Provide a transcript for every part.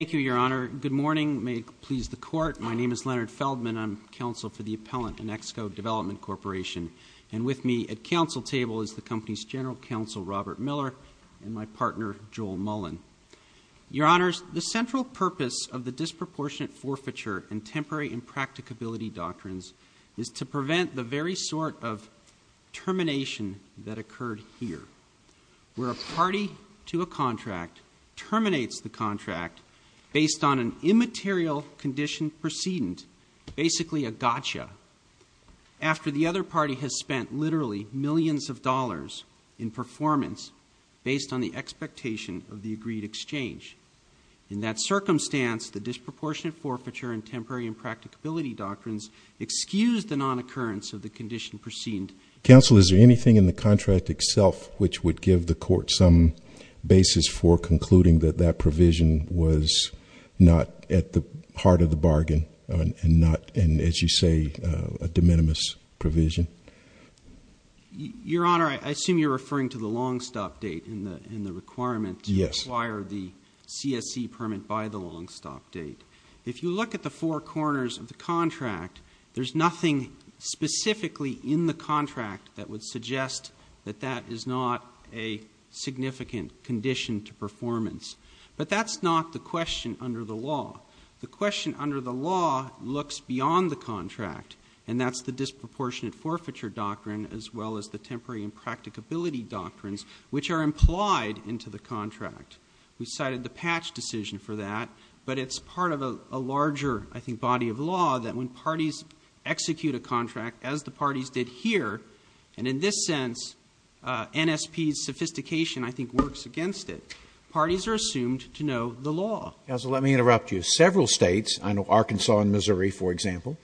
Thank you, Your Honor. Good morning. May it please the Court. My name is Leonard Feldman. I'm counsel for the appellant inXco Development Corporation. And with me at counsel table is the company's general counsel, Robert Miller, and my partner, Joel Mullen. Your Honors, the central purpose of the disproportionate forfeiture and temporary impracticability doctrines is to prevent the very sort of termination that occurred here, where a party to a contract terminates the contract based on an immaterial condition precedent, basically a gotcha, after the other party has spent literally millions of dollars in performance based on the expectation of the agreed exchange. In that circumstance, the disproportionate forfeiture and temporary impracticability doctrines excuse the non-occurrence of the condition precedent. Counsel, is there anything in the contract itself which would give the Court some basis for concluding that that provision was not at the heart of the bargain, and not, as you say, a de minimis provision? Your Honor, I assume you're referring to the long-stop date in the requirement to acquire the CSE permit by the long-stop date. If you look at the four corners of the contract, there's nothing specifically in the contract that would suggest that that is not a significant condition to performance. But that's not the question under the law. The question under the law looks beyond the contract, and that's the disproportionate forfeiture doctrine, as well as the temporary impracticability doctrines, which are implied into the contract. We cited the Patch decision for that. But it's part of a larger, I think, body of law that when parties execute a contract, as the parties did here, and in this sense NSP's sophistication, I think, works against it, parties are assumed to know the law. Counsel, let me interrupt you. Several states, I know Arkansas and Missouri, for example,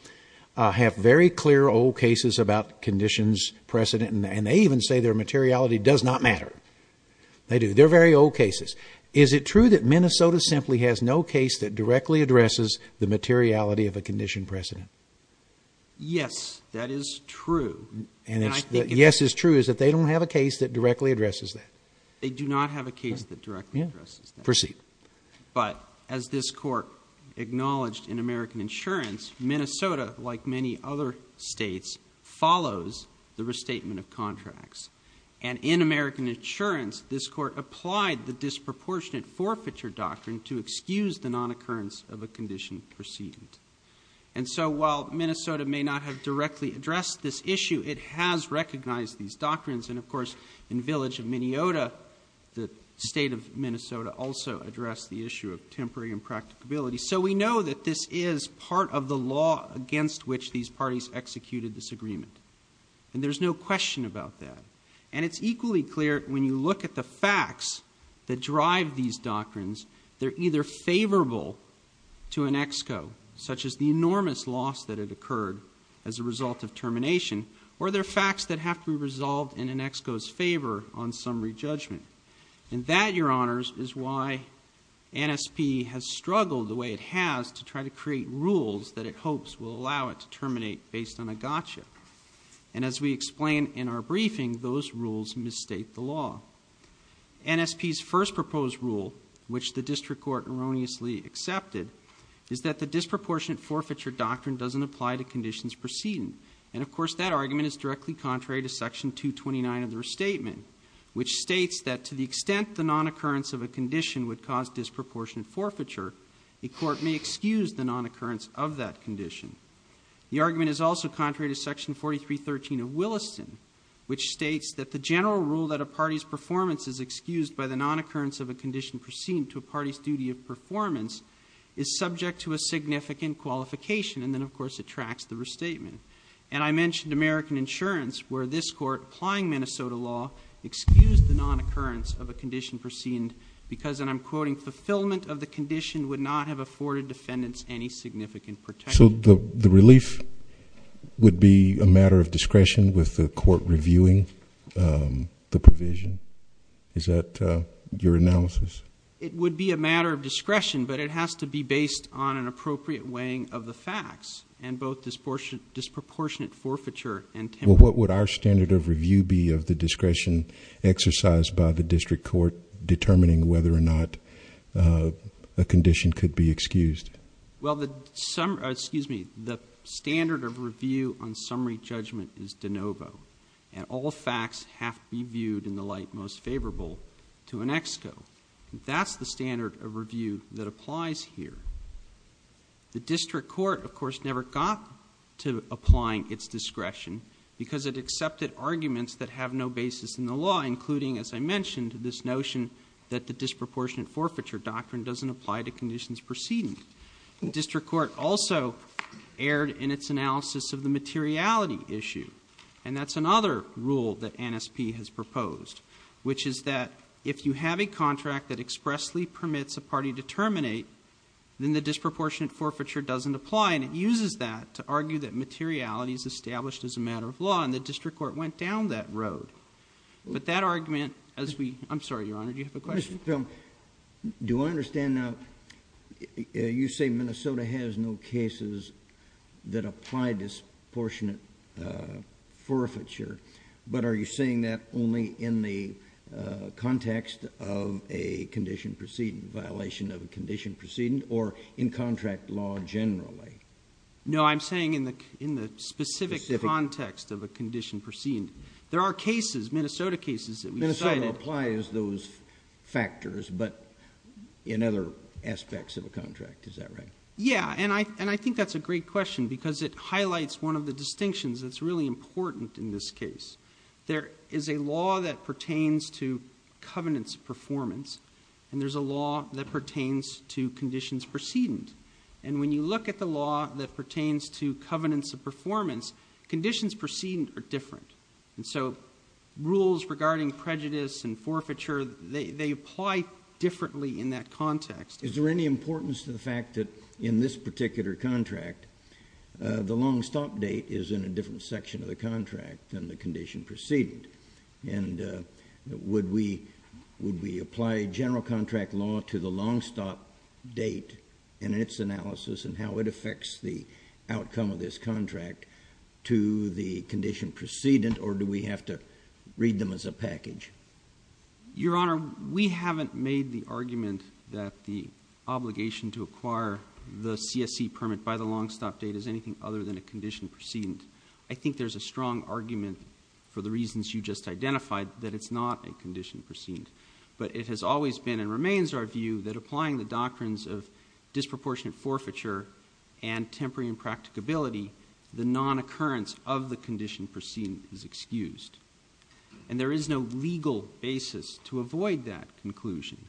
have very clear old cases about conditions precedent, and they even say their materiality does not matter. They do. They're very old cases. Is it true that Minnesota simply has no case that directly addresses the materiality of a condition precedent? Yes, that is true. And if the yes is true, is that they don't have a case that directly addresses that? They do not have a case that directly addresses that. Proceed. But as this Court acknowledged in American Insurance, Minnesota, like many other states, follows the restatement of contracts. And in American Insurance, this Court applied the disproportionate forfeiture doctrine to excuse the nonoccurrence of a condition precedent. And so while Minnesota may not have directly addressed this issue, it has recognized these doctrines. And, of course, in Village of Minneota, the state of Minnesota, also addressed the issue of temporary impracticability. So we know that this is part of the law against which these parties executed this agreement. And there's no question about that. And it's equally clear when you look at the facts that drive these doctrines, they're either favorable to an ex-co, such as the enormous loss that had occurred as a result of termination, or they're facts that have to be resolved in an ex-co's favor on summary judgment. And that, Your Honors, is why NSP has struggled the way it has to try to create rules that it hopes will allow it to terminate based on a gotcha. And as we explain in our briefing, those rules misstate the law. NSP's first proposed rule, which the District Court erroneously accepted, is that the disproportionate forfeiture doctrine doesn't apply to conditions precedent. And, of course, that argument is directly contrary to Section 229 of the Restatement, which states that to the extent the non-occurrence of a condition would cause disproportionate forfeiture, a court may excuse the non-occurrence of that condition. The argument is also contrary to Section 4313 of Williston, which states that the general rule that a party's performance is excused by the non-occurrence of a condition precedent to a party's duty of performance is subject to a significant qualification. And then, of course, it tracks the restatement. And I mentioned American Insurance, where this Court, applying Minnesota law, excused the non-occurrence of a condition precedent because, and I'm quoting, fulfillment of the condition would not have afforded defendants any significant protection. So the relief would be a matter of discretion with the court reviewing the provision. Is that your analysis? It would be a matter of discretion, but it has to be based on an appropriate weighing of the facts and both disproportionate forfeiture and temperance. Well, what would our standard of review be of the discretion exercised by the district court determining whether or not a condition could be excused? Well, the standard of review on summary judgment is de novo, and all facts have to be viewed in the light most favorable to an ex quo. That's the standard of review that applies here. The district court, of course, never got to applying its discretion because it accepted arguments that have no basis in the law, including, as I mentioned, this notion that the disproportionate forfeiture doctrine doesn't apply to conditions precedent. The district court also erred in its analysis of the materiality issue, and that's another rule that NSP has proposed, which is that if you have a contract that expressly permits a party to terminate, then the disproportionate forfeiture doesn't apply, and it uses that to argue that materiality is established as a matter of law, and the district court went down that road. But that argument, as we – I'm sorry, Your Honor, do you have a question? Do I understand now you say Minnesota has no cases that apply disproportionate forfeiture, but are you saying that only in the context of a condition precedent, violation of a condition precedent, or in contract law generally? No, I'm saying in the specific context of a condition precedent. There are cases, Minnesota cases, that we cited. So it applies those factors, but in other aspects of a contract, is that right? Yeah, and I think that's a great question because it highlights one of the distinctions that's really important in this case. There is a law that pertains to covenants of performance, and there's a law that pertains to conditions precedent. And when you look at the law that pertains to covenants of performance, conditions precedent are different. And so rules regarding prejudice and forfeiture, they apply differently in that context. Is there any importance to the fact that in this particular contract, the long stop date is in a different section of the contract than the condition precedent? And would we apply general contract law to the long stop date in its analysis and how it affects the outcome of this contract to the condition precedent, or do we have to read them as a package? Your Honor, we haven't made the argument that the obligation to acquire the CSE permit by the long stop date is anything other than a condition precedent. I think there's a strong argument for the reasons you just identified that it's not a condition precedent. In terms of disproportionate forfeiture and temporary impracticability, the non-occurrence of the condition precedent is excused. And there is no legal basis to avoid that conclusion.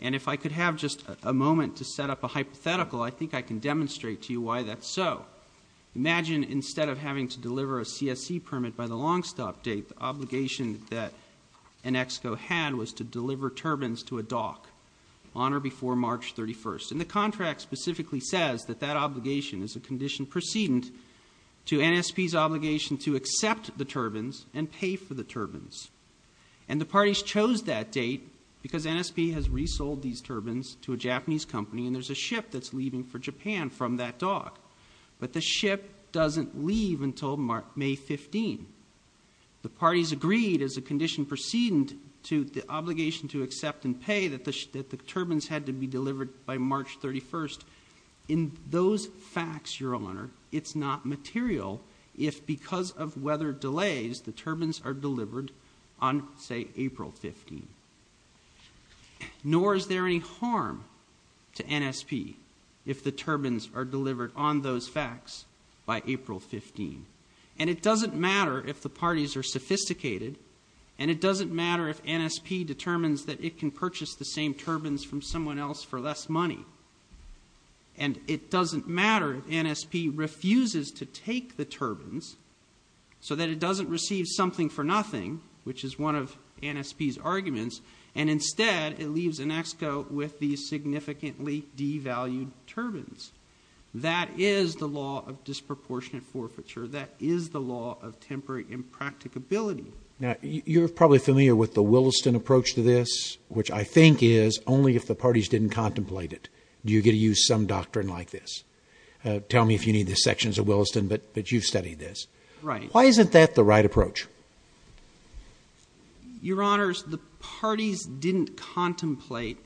And if I could have just a moment to set up a hypothetical, I think I can demonstrate to you why that's so. Imagine instead of having to deliver a CSE permit by the long stop date, that an EXCO had was to deliver turbines to a dock on or before March 31. And the contract specifically says that that obligation is a condition precedent to NSP's obligation to accept the turbines and pay for the turbines. And the parties chose that date because NSP has resold these turbines to a Japanese company, and there's a ship that's leaving for Japan from that dock. But the ship doesn't leave until May 15. The parties agreed as a condition precedent to the obligation to accept and pay that the turbines had to be delivered by March 31. In those facts, Your Honor, it's not material if because of weather delays, the turbines are delivered on, say, April 15. Nor is there any harm to NSP if the turbines are delivered on those facts by April 15. And it doesn't matter if the parties are sophisticated, and it doesn't matter if NSP determines that it can purchase the same turbines from someone else for less money. And it doesn't matter if NSP refuses to take the turbines so that it doesn't receive something for nothing, which is one of NSP's arguments, and instead it leaves an EXCO with these significantly devalued turbines. That is the law of disproportionate forfeiture. That is the law of temporary impracticability. Now, you're probably familiar with the Williston approach to this, which I think is only if the parties didn't contemplate it do you get to use some doctrine like this. Tell me if you need the sections of Williston, but you've studied this. Right. Why isn't that the right approach? Your Honors, the parties didn't contemplate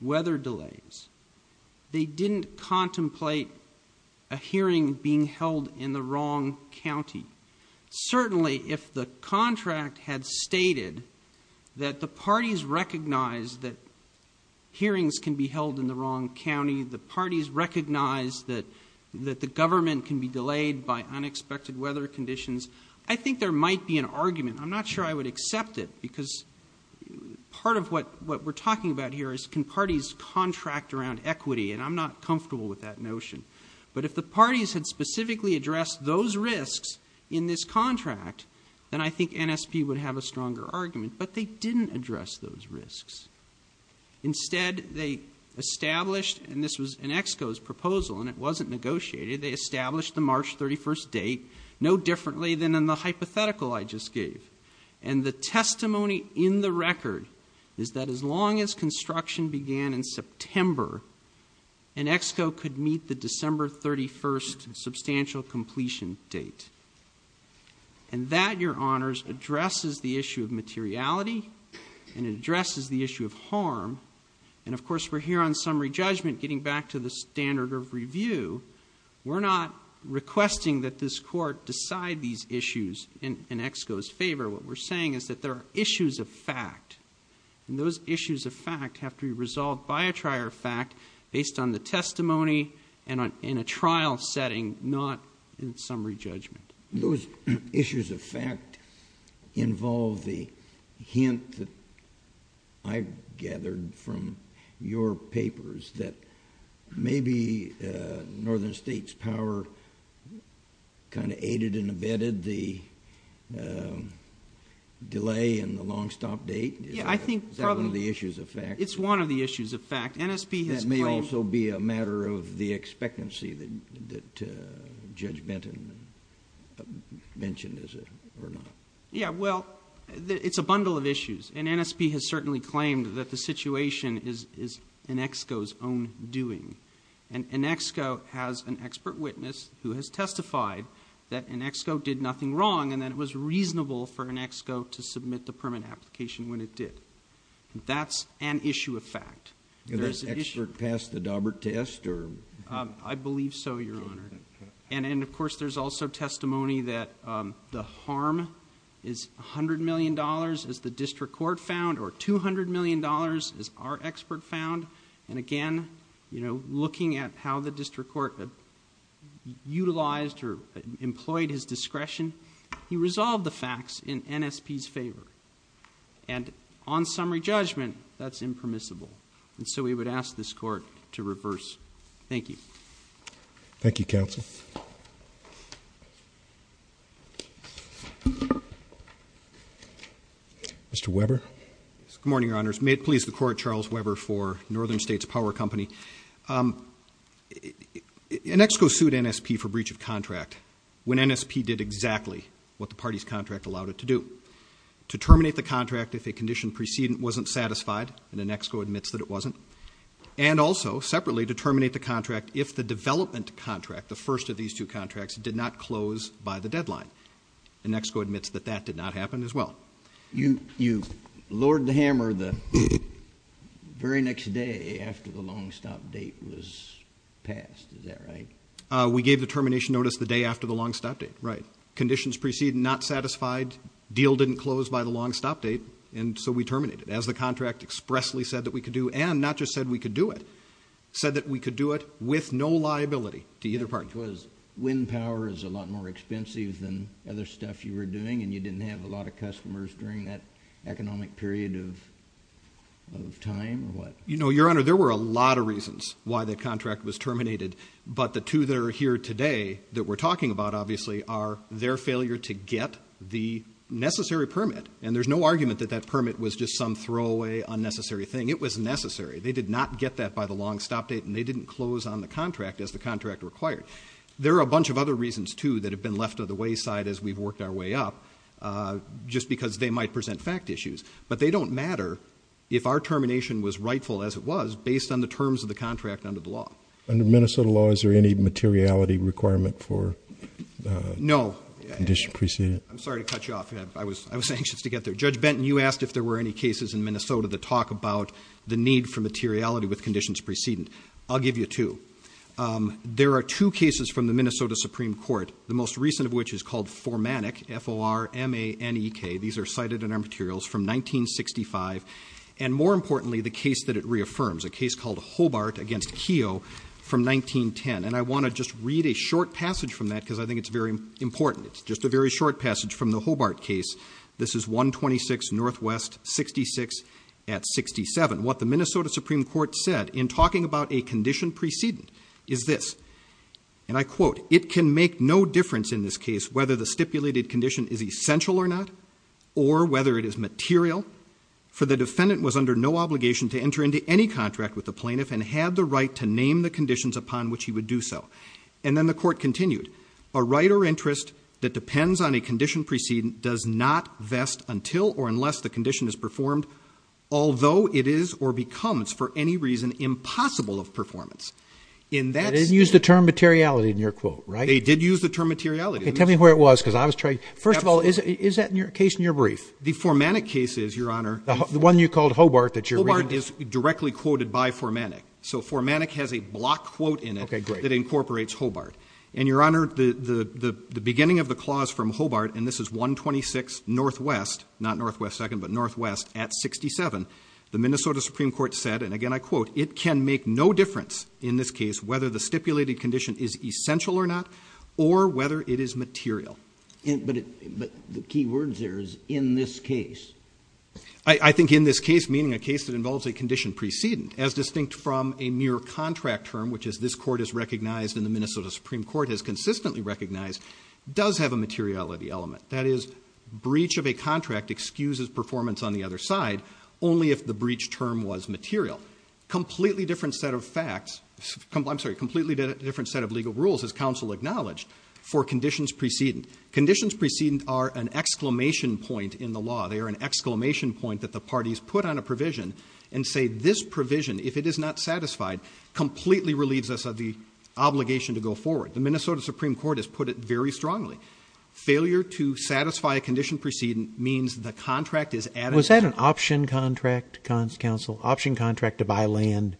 weather delays. They didn't contemplate a hearing being held in the wrong county. Certainly, if the contract had stated that the parties recognize that hearings can be held in the wrong county, the parties recognize that the government can be delayed by unexpected weather conditions, I think there might be an argument. I'm not sure I would accept it because part of what we're talking about here is can parties contract around equity, and I'm not comfortable with that notion. But if the parties had specifically addressed those risks in this contract, then I think NSP would have a stronger argument, but they didn't address those risks. Instead, they established, and this was an EXCO's proposal and it wasn't negotiated, they established the March 31st date no differently than in the hypothetical I just gave. And the testimony in the record is that as long as construction began in September, an EXCO could meet the December 31st substantial completion date. And that, Your Honors, addresses the issue of materiality and it addresses the issue of harm. And, of course, we're here on summary judgment getting back to the standard of review. We're not requesting that this court decide these issues in EXCO's favor. What we're saying is that there are issues of fact, and those issues of fact have to be resolved by a trier of fact based on the testimony and in a trial setting, not in summary judgment. Those issues of fact involve the hint that I've gathered from your papers that maybe Northern State's power kind of aided and abetted the delay in the long stop date. Yeah, I think probably. Is that one of the issues of fact? It's one of the issues of fact. NSP has claimed. That may also be a matter of the expectancy that Judge Benton mentioned, is it, or not? Yeah, well, it's a bundle of issues. And NSP has certainly claimed that the situation is an EXCO's own doing. An EXCO has an expert witness who has testified that an EXCO did nothing wrong and that it was reasonable for an EXCO to submit the permit application when it did. That's an issue of fact. Has the expert passed the Daubert test? I believe so, Your Honor. And, of course, there's also testimony that the harm is $100 million, as the district court found, or $200 million, as our expert found. And, again, looking at how the district court utilized or employed his discretion, he resolved the facts in NSP's favor. And on summary judgment, that's impermissible. And so we would ask this court to reverse. Thank you. Thank you, counsel. Mr. Weber. Good morning, Your Honors. May it please the Court, Charles Weber for Northern States Power Company. An EXCO sued NSP for breach of contract when NSP did exactly what the party's contract allowed it to do, to terminate the contract if a condition precedent wasn't satisfied, and an EXCO admits that it wasn't, and also, separately, to terminate the contract if the development contract, the first of these two contracts, did not close by the deadline. An EXCO admits that that did not happen as well. You lowered the hammer the very next day after the long stop date was passed. Is that right? We gave the termination notice the day after the long stop date, right. Conditions precedent not satisfied, deal didn't close by the long stop date, and so we terminated. As the contract expressly said that we could do, and not just said we could do it, said that we could do it with no liability to either party. Which was wind power is a lot more expensive than other stuff you were doing, and you didn't have a lot of customers during that economic period of time, or what? You know, Your Honor, there were a lot of reasons why that contract was terminated, but the two that are here today that we're talking about, obviously, are their failure to get the necessary permit. And there's no argument that that permit was just some throwaway, unnecessary thing. It was necessary. They did not get that by the long stop date, and they didn't close on the contract as the contract required. There are a bunch of other reasons, too, that have been left to the wayside as we've worked our way up, just because they might present fact issues. But they don't matter if our termination was rightful as it was based on the terms of the contract under the law. Under Minnesota law, is there any materiality requirement for condition precedent? No. I'm sorry to cut you off. I was anxious to get there. Judge Benton, you asked if there were any cases in Minnesota that talk about the need for materiality with conditions precedent. I'll give you two. There are two cases from the Minnesota Supreme Court, the most recent of which is called Formanic, F-O-R-M-A-N-E-K. These are cited in our materials from 1965, and more importantly, the case that it reaffirms, a case called Hobart against Keough from 1910. And I want to just read a short passage from that because I think it's very important. It's just a very short passage from the Hobart case. This is 126 Northwest 66 at 67. What the Minnesota Supreme Court said in talking about a condition precedent is this, and I quote, it can make no difference in this case whether the stipulated condition is essential or not or whether it is material, for the defendant was under no obligation to enter into any contract with the plaintiff and had the right to name the conditions upon which he would do so. And then the court continued, a right or interest that depends on a condition precedent does not vest until or unless the condition is performed, although it is or becomes for any reason impossible of performance. In that statement. They didn't use the term materiality in your quote, right? They did use the term materiality. Okay. Tell me where it was because I was trying. First of all, is that case in your brief? The Formanic case is, Your Honor. The one you called Hobart that you're reading. Hobart is directly quoted by Formanic. So Formanic has a block quote in it. Okay, great. That incorporates Hobart. And, Your Honor, the beginning of the clause from Hobart, and this is 126 NW, not NW 2nd, but NW at 67, the Minnesota Supreme Court said, and again I quote, it can make no difference in this case whether the stipulated condition is essential or not or whether it is material. But the key words there is in this case. I think in this case, meaning a case that involves a condition precedent, as distinct from a mere contract term, which this court has recognized and the Minnesota Supreme Court has consistently recognized, does have a materiality element. That is, breach of a contract excuses performance on the other side only if the breach term was material. Completely different set of facts, I'm sorry, completely different set of legal rules, as counsel acknowledged, for conditions precedent. Conditions precedent are an exclamation point in the law. They are an exclamation point that the parties put on a provision and say this provision, if it is not satisfied, completely relieves us of the obligation to go forward. The Minnesota Supreme Court has put it very strongly. Failure to satisfy a condition precedent means the contract is added. Was that an option contract, counsel, option contract to buy land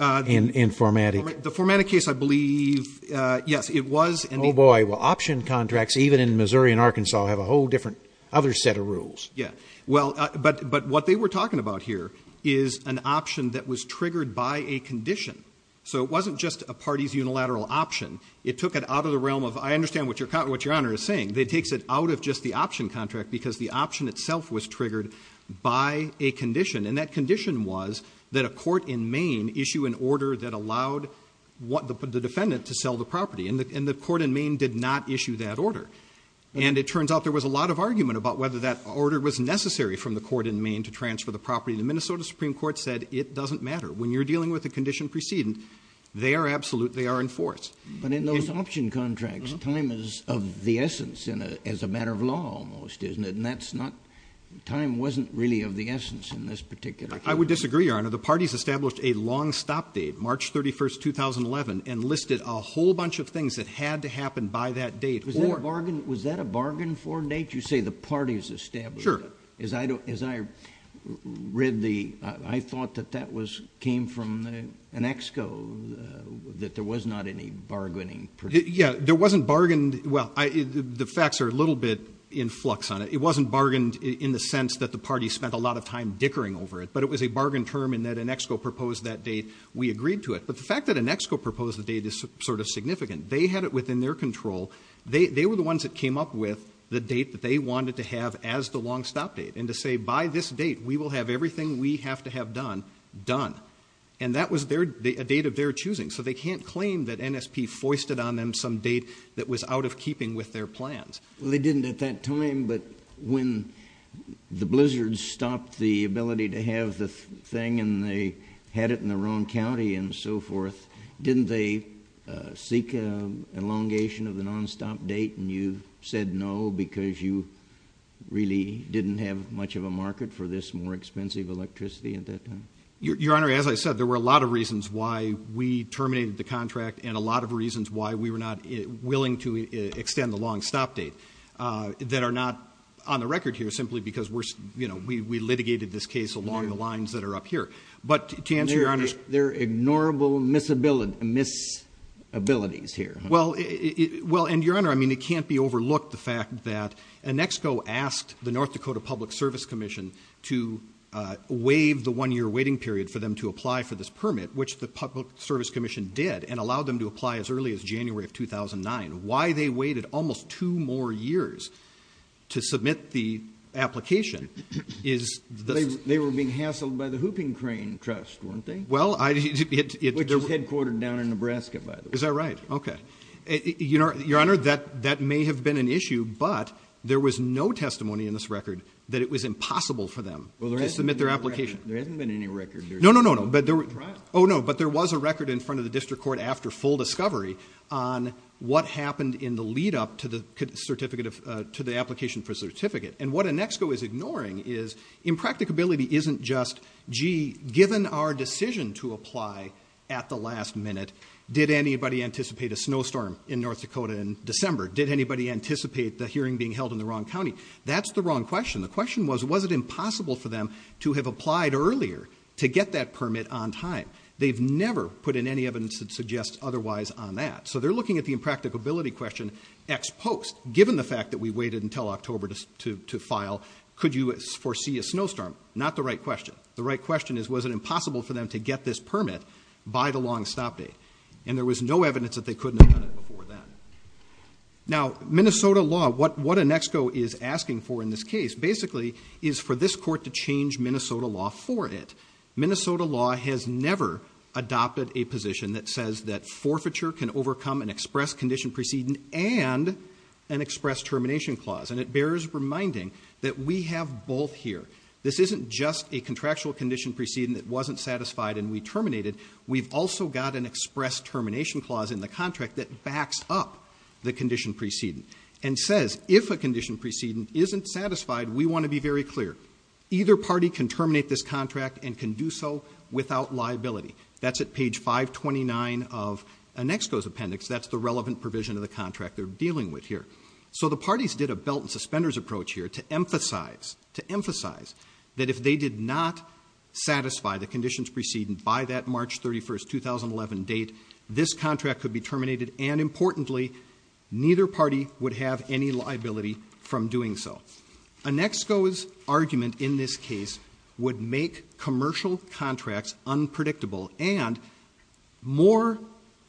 in formatting? The formatted case, I believe, yes, it was. Oh, boy, well, option contracts, even in Missouri and Arkansas, have a whole different other set of rules. Yeah, well, but what they were talking about here is an option that was triggered by a condition. So it wasn't just a party's unilateral option. It took it out of the realm of, I understand what Your Honor is saying. It takes it out of just the option contract because the option itself was triggered by a condition, and that condition was that a court in Maine issue an order that allowed the defendant to sell the property. And the court in Maine did not issue that order. And it turns out there was a lot of argument about whether that order was necessary from the court in Maine to transfer the property. The Minnesota Supreme Court said it doesn't matter. When you're dealing with a condition precedent, they are absolute, they are in force. But in those option contracts, time is of the essence as a matter of law almost, isn't it? And that's not, time wasn't really of the essence in this particular case. I would disagree, Your Honor. The parties established a long stop date, March 31, 2011, and listed a whole bunch of things that had to happen by that date. Was that a bargain for a date? You say the parties established it. Sure. As I read the, I thought that that was, came from an ex-co, that there was not any bargaining. Yeah, there wasn't bargained, well, the facts are a little bit in flux on it. It wasn't bargained in the sense that the parties spent a lot of time dickering over it. But it was a bargain term in that an ex-co proposed that date, we agreed to it. But the fact that an ex-co proposed the date is sort of significant. They had it within their control. They were the ones that came up with the date that they wanted to have as the long stop date. And to say, by this date, we will have everything we have to have done, done. And that was their, a date of their choosing. So they can't claim that NSP foisted on them some date that was out of keeping with their plans. Well, they didn't at that time, but when the Blizzards stopped the ability to have the thing and they had it in their own county and so forth, didn't they seek an elongation of the nonstop date and you said no because you really didn't have much of a market for this more expensive electricity at that time? Your Honor, as I said, there were a lot of reasons why we terminated the contract and a lot of reasons why we were not willing to extend the long stop date that are not on the record here simply because we litigated this case along the lines that are up here. But to answer Your Honor's question. There are ignorable misabilities here. Well, and Your Honor, I mean, it can't be overlooked the fact that an ex-co asked the North Dakota Public Service Commission to waive the one-year waiting period for them to apply for this permit, which the Public Service Commission did and allowed them to apply as early as January of 2009. Why they waited almost two more years to submit the application is the... They were being hassled by the Hooping Crane Trust, weren't they? Well, I... Which is headquartered down in Nebraska, by the way. Is that right? Okay. Your Honor, that may have been an issue, but there was no testimony in this record that it was impossible for them to submit their application. Well, there hasn't been any record. No, no, no. Oh, no. But there was a record in front of the district court after full discovery on what happened in the lead-up to the application for certificate. And what an ex-co is ignoring is impracticability isn't just, gee, given our decision to apply at the last minute, did anybody anticipate a snowstorm in North Dakota in December? Did anybody anticipate the hearing being held in the wrong county? That's the wrong question. The question was, was it impossible for them to have applied earlier to get that permit on time? They've never put in any evidence that suggests otherwise on that. So they're looking at the impracticability question ex post. Given the fact that we waited until October to file, could you foresee a snowstorm? Not the right question. The right question is, was it impossible for them to get this permit by the long stop date? And there was no evidence that they couldn't have done it before then. Now, Minnesota law, what an ex-co is asking for in this case, basically, is for this court to change Minnesota law for it. Minnesota law has never adopted a position that says that forfeiture can overcome an express condition preceding and an express termination clause. And it bears reminding that we have both here. This isn't just a contractual condition preceding that wasn't satisfied and we terminated. We've also got an express termination clause in the contract that backs up the condition preceding and says, if a condition preceding isn't satisfied, we want to be very clear. Either party can terminate this contract and can do so without liability. That's at page 529 of an ex-co's appendix. That's the relevant provision of the contract they're dealing with here. So the parties did a belt and suspenders approach here to emphasize, to emphasize that if they did not satisfy the conditions preceding by that March 31st, 2011 date, this contract could be terminated. And importantly, neither party would have any liability from doing so. An ex-co's argument in this case would make commercial contracts unpredictable. And more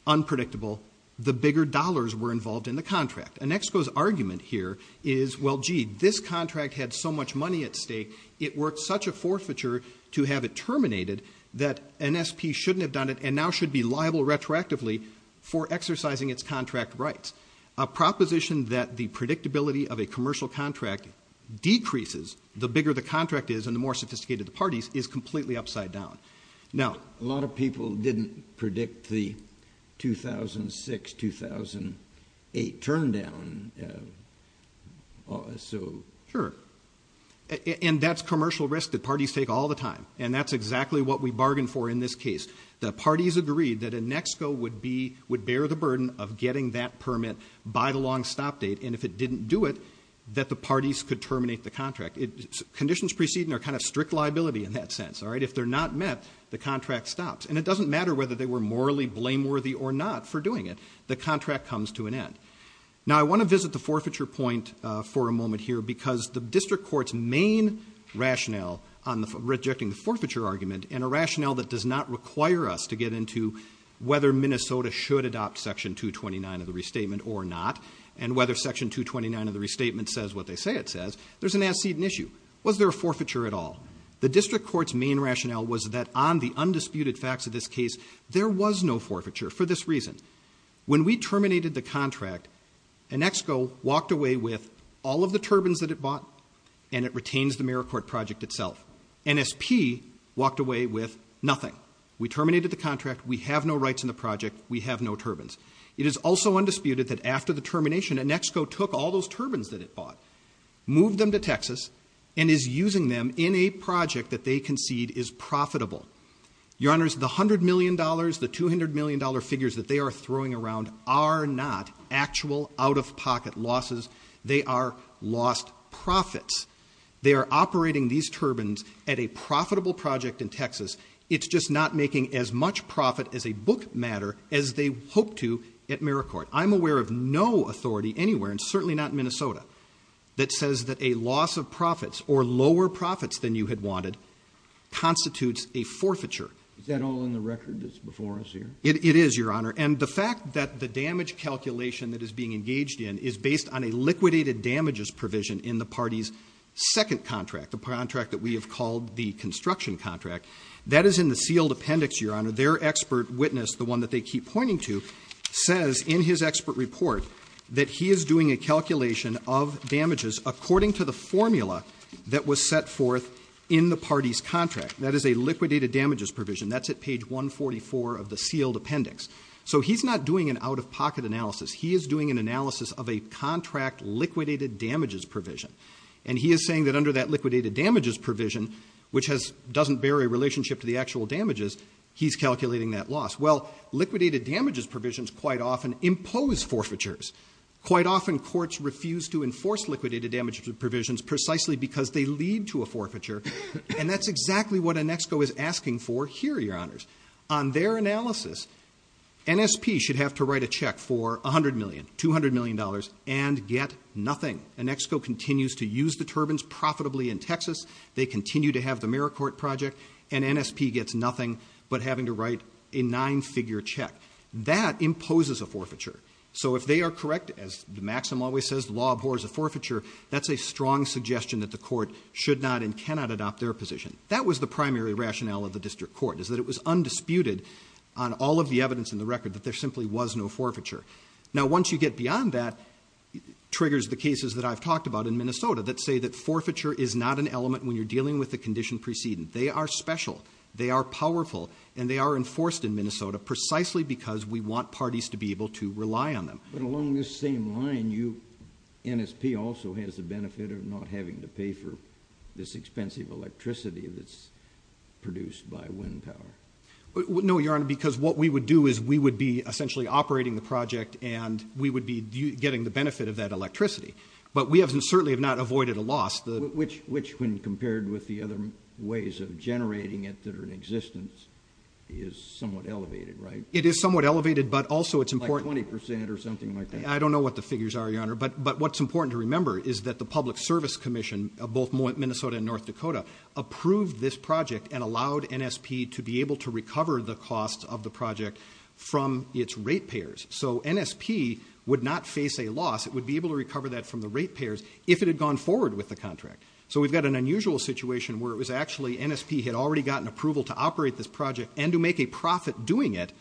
unpredictable, the bigger dollars were involved in the contract. An ex-co's argument here is, well, gee, this contract had so much money at stake, it worked such a forfeiture to have it terminated that an SP shouldn't have done it and now should be liable retroactively for exercising its contract rights. A proposition that the predictability of a commercial contract decreases the bigger the contract is and the more sophisticated the parties is completely upside down. Now, a lot of people didn't predict the 2006-2008 turndown. Sure. And that's commercial risk that parties take all the time, and that's exactly what we bargained for in this case. The parties agreed that an ex-co would bear the burden of getting that permit by the long stop date, and if it didn't do it, that the parties could terminate the contract. Conditions preceding are kind of strict liability in that sense. If they're not met, the contract stops. And it doesn't matter whether they were morally blameworthy or not for doing it. The contract comes to an end. Now, I want to visit the forfeiture point for a moment here because the district court's main rationale on rejecting the forfeiture argument and a rationale that does not require us to get into whether Minnesota should adopt Section 229 of the Restatement or not and whether Section 229 of the Restatement says what they say it says, there's an as-seen issue. Was there a forfeiture at all? The district court's main rationale was that on the undisputed facts of this case, there was no forfeiture for this reason. When we terminated the contract, an ex-co walked away with all of the turbines that it bought, and it retains the Merricourt Project itself. NSP walked away with nothing. We terminated the contract. We have no rights in the project. We have no turbines. It is also undisputed that after the termination, an ex-co took all those turbines that it bought, moved them to Texas, and is using them in a project that they concede is profitable. Your Honors, the $100 million, the $200 million figures that they are throwing around are not actual out-of-pocket losses. They are lost profits. They are operating these turbines at a profitable project in Texas. It's just not making as much profit as a book matter as they hope to at Merricourt. I'm aware of no authority anywhere, and certainly not in Minnesota, that says that a loss of profits or lower profits than you had wanted constitutes a forfeiture. Is that all in the record that's before us here? It is, Your Honor. And the fact that the damage calculation that is being engaged in is based on a liquidated damages provision in the party's second contract, the contract that we have called the construction contract. That is in the sealed appendix, Your Honor. Their expert witness, the one that they keep pointing to, says in his expert report that he is doing a calculation of damages according to the formula that was set forth in the party's contract. That is a liquidated damages provision. That's at page 144 of the sealed appendix. So he's not doing an out-of-pocket analysis. He is doing an analysis of a contract liquidated damages provision. And he is saying that under that liquidated damages provision, which doesn't bear a relationship to the actual damages, he's calculating that loss. Well, liquidated damages provisions quite often impose forfeitures. Quite often courts refuse to enforce liquidated damages provisions precisely because they lead to a forfeiture. And that's exactly what Anexco is asking for here, Your Honors. On their analysis, NSP should have to write a check for $100 million, $200 million, and get nothing. Anexco continues to use the turbines profitably in Texas. They continue to have the AmeriCorps project. And NSP gets nothing but having to write a nine-figure check. That imposes a forfeiture. So if they are correct, as Maxim always says, the law abhors a forfeiture, that's a strong suggestion that the court should not and cannot adopt their position. That was the primary rationale of the district court, is that it was undisputed on all of the evidence in the record that there simply was no forfeiture. Now, once you get beyond that, it triggers the cases that I've talked about in Minnesota that say that forfeiture is not an element when you're dealing with the condition preceding. They are special. They are powerful. And they are enforced in Minnesota precisely because we want parties to be able to rely on them. But along this same line, NSP also has the benefit of not having to pay for this expensive electricity that's produced by wind power. No, Your Honor, because what we would do is we would be essentially operating the project and we would be getting the benefit of that electricity. But we certainly have not avoided a loss. Which, when compared with the other ways of generating it that are in existence, is somewhat elevated, right? It is somewhat elevated, but also it's important. Like 20% or something like that? I don't know what the figures are, Your Honor, but what's important to remember is that the Public Service Commission, both Minnesota and North Dakota, approved this project and allowed NSP to be able to recover the cost of the project from its rate payers. So NSP would not face a loss. It would be able to recover that from the rate payers if it had gone forward with the contract. So we've got an unusual situation where it was actually NSP had already gotten approval to operate this project and to make a profit doing it,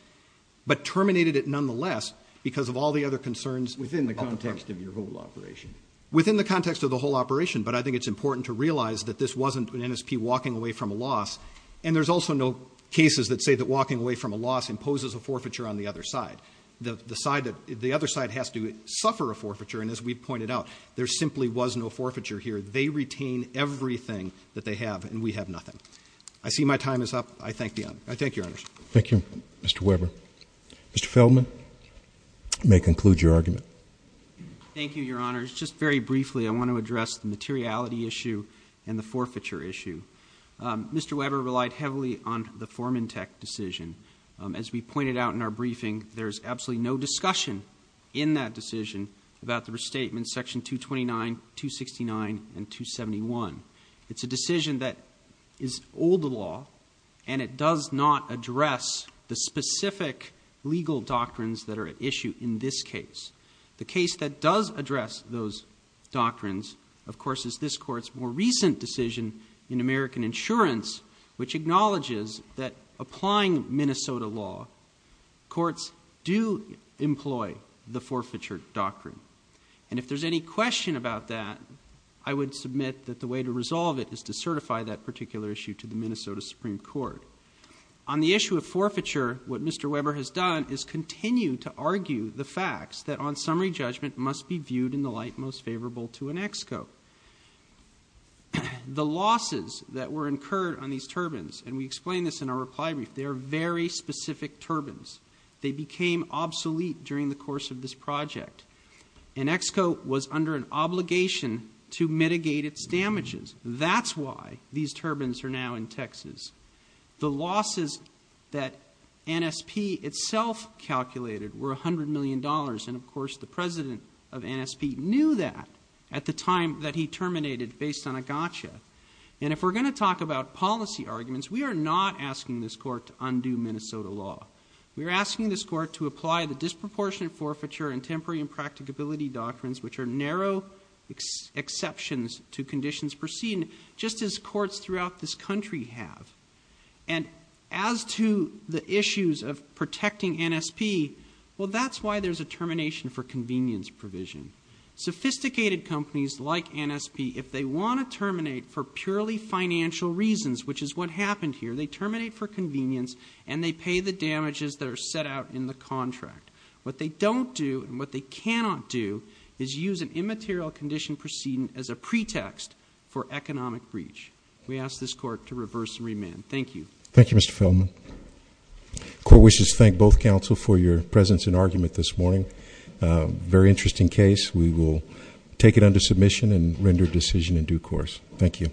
but terminated it nonetheless because of all the other concerns. Within the context of your whole operation? Within the context of the whole operation, but I think it's important to realize that this wasn't an NSP walking away from a loss. And there's also no cases that say that walking away from a loss imposes a forfeiture on the other side. The other side has to suffer a forfeiture, and as we pointed out, there simply was no forfeiture here. They retain everything that they have, and we have nothing. I see my time is up. I thank you. I thank you, Your Honors. Thank you, Mr. Weber. Mr. Feldman, you may conclude your argument. Thank you, Your Honors. Just very briefly, I want to address the materiality issue and the forfeiture issue. Mr. Weber relied heavily on the Foreman Tech decision. As we pointed out in our briefing, there's absolutely no discussion in that decision about the restatement, Section 229, 269, and 271. It's a decision that is old law, and it does not address the specific legal doctrines that are at issue in this case. The case that does address those doctrines, of course, is this Court's more recent decision in American Insurance, which acknowledges that applying Minnesota law, courts do employ the forfeiture doctrine. And if there's any question about that, I would submit that the way to resolve it is to certify that particular issue to the Minnesota Supreme Court. On the issue of forfeiture, what Mr. Weber has done is continue to argue the facts that, on summary judgment, must be viewed in the light most favorable to an ex co. The losses that were incurred on these turbines, and we explained this in our reply brief, they are very specific turbines. They became obsolete during the course of this project. An ex co. was under an obligation to mitigate its damages. That's why these turbines are now in Texas. The losses that NSP itself calculated were $100 million. And, of course, the president of NSP knew that at the time that he terminated based on a gotcha. And if we're going to talk about policy arguments, we are not asking this Court to undo Minnesota law. We are asking this Court to apply the disproportionate forfeiture and temporary impracticability doctrines, which are narrow exceptions to conditions perceived just as courts throughout this country have. And as to the issues of protecting NSP, well, that's why there's a termination for convenience provision. Sophisticated companies like NSP, if they want to terminate for purely financial reasons, which is what happened here, they terminate for convenience and they pay the damages that are set out in the contract. What they don't do and what they cannot do is use an immaterial condition precedent as a pretext for economic breach. We ask this Court to reverse and remand. Thank you. Thank you, Mr. Feldman. Court wishes to thank both counsel for your presence and argument this morning. Very interesting case. We will take it under submission and render a decision in due course. Thank you.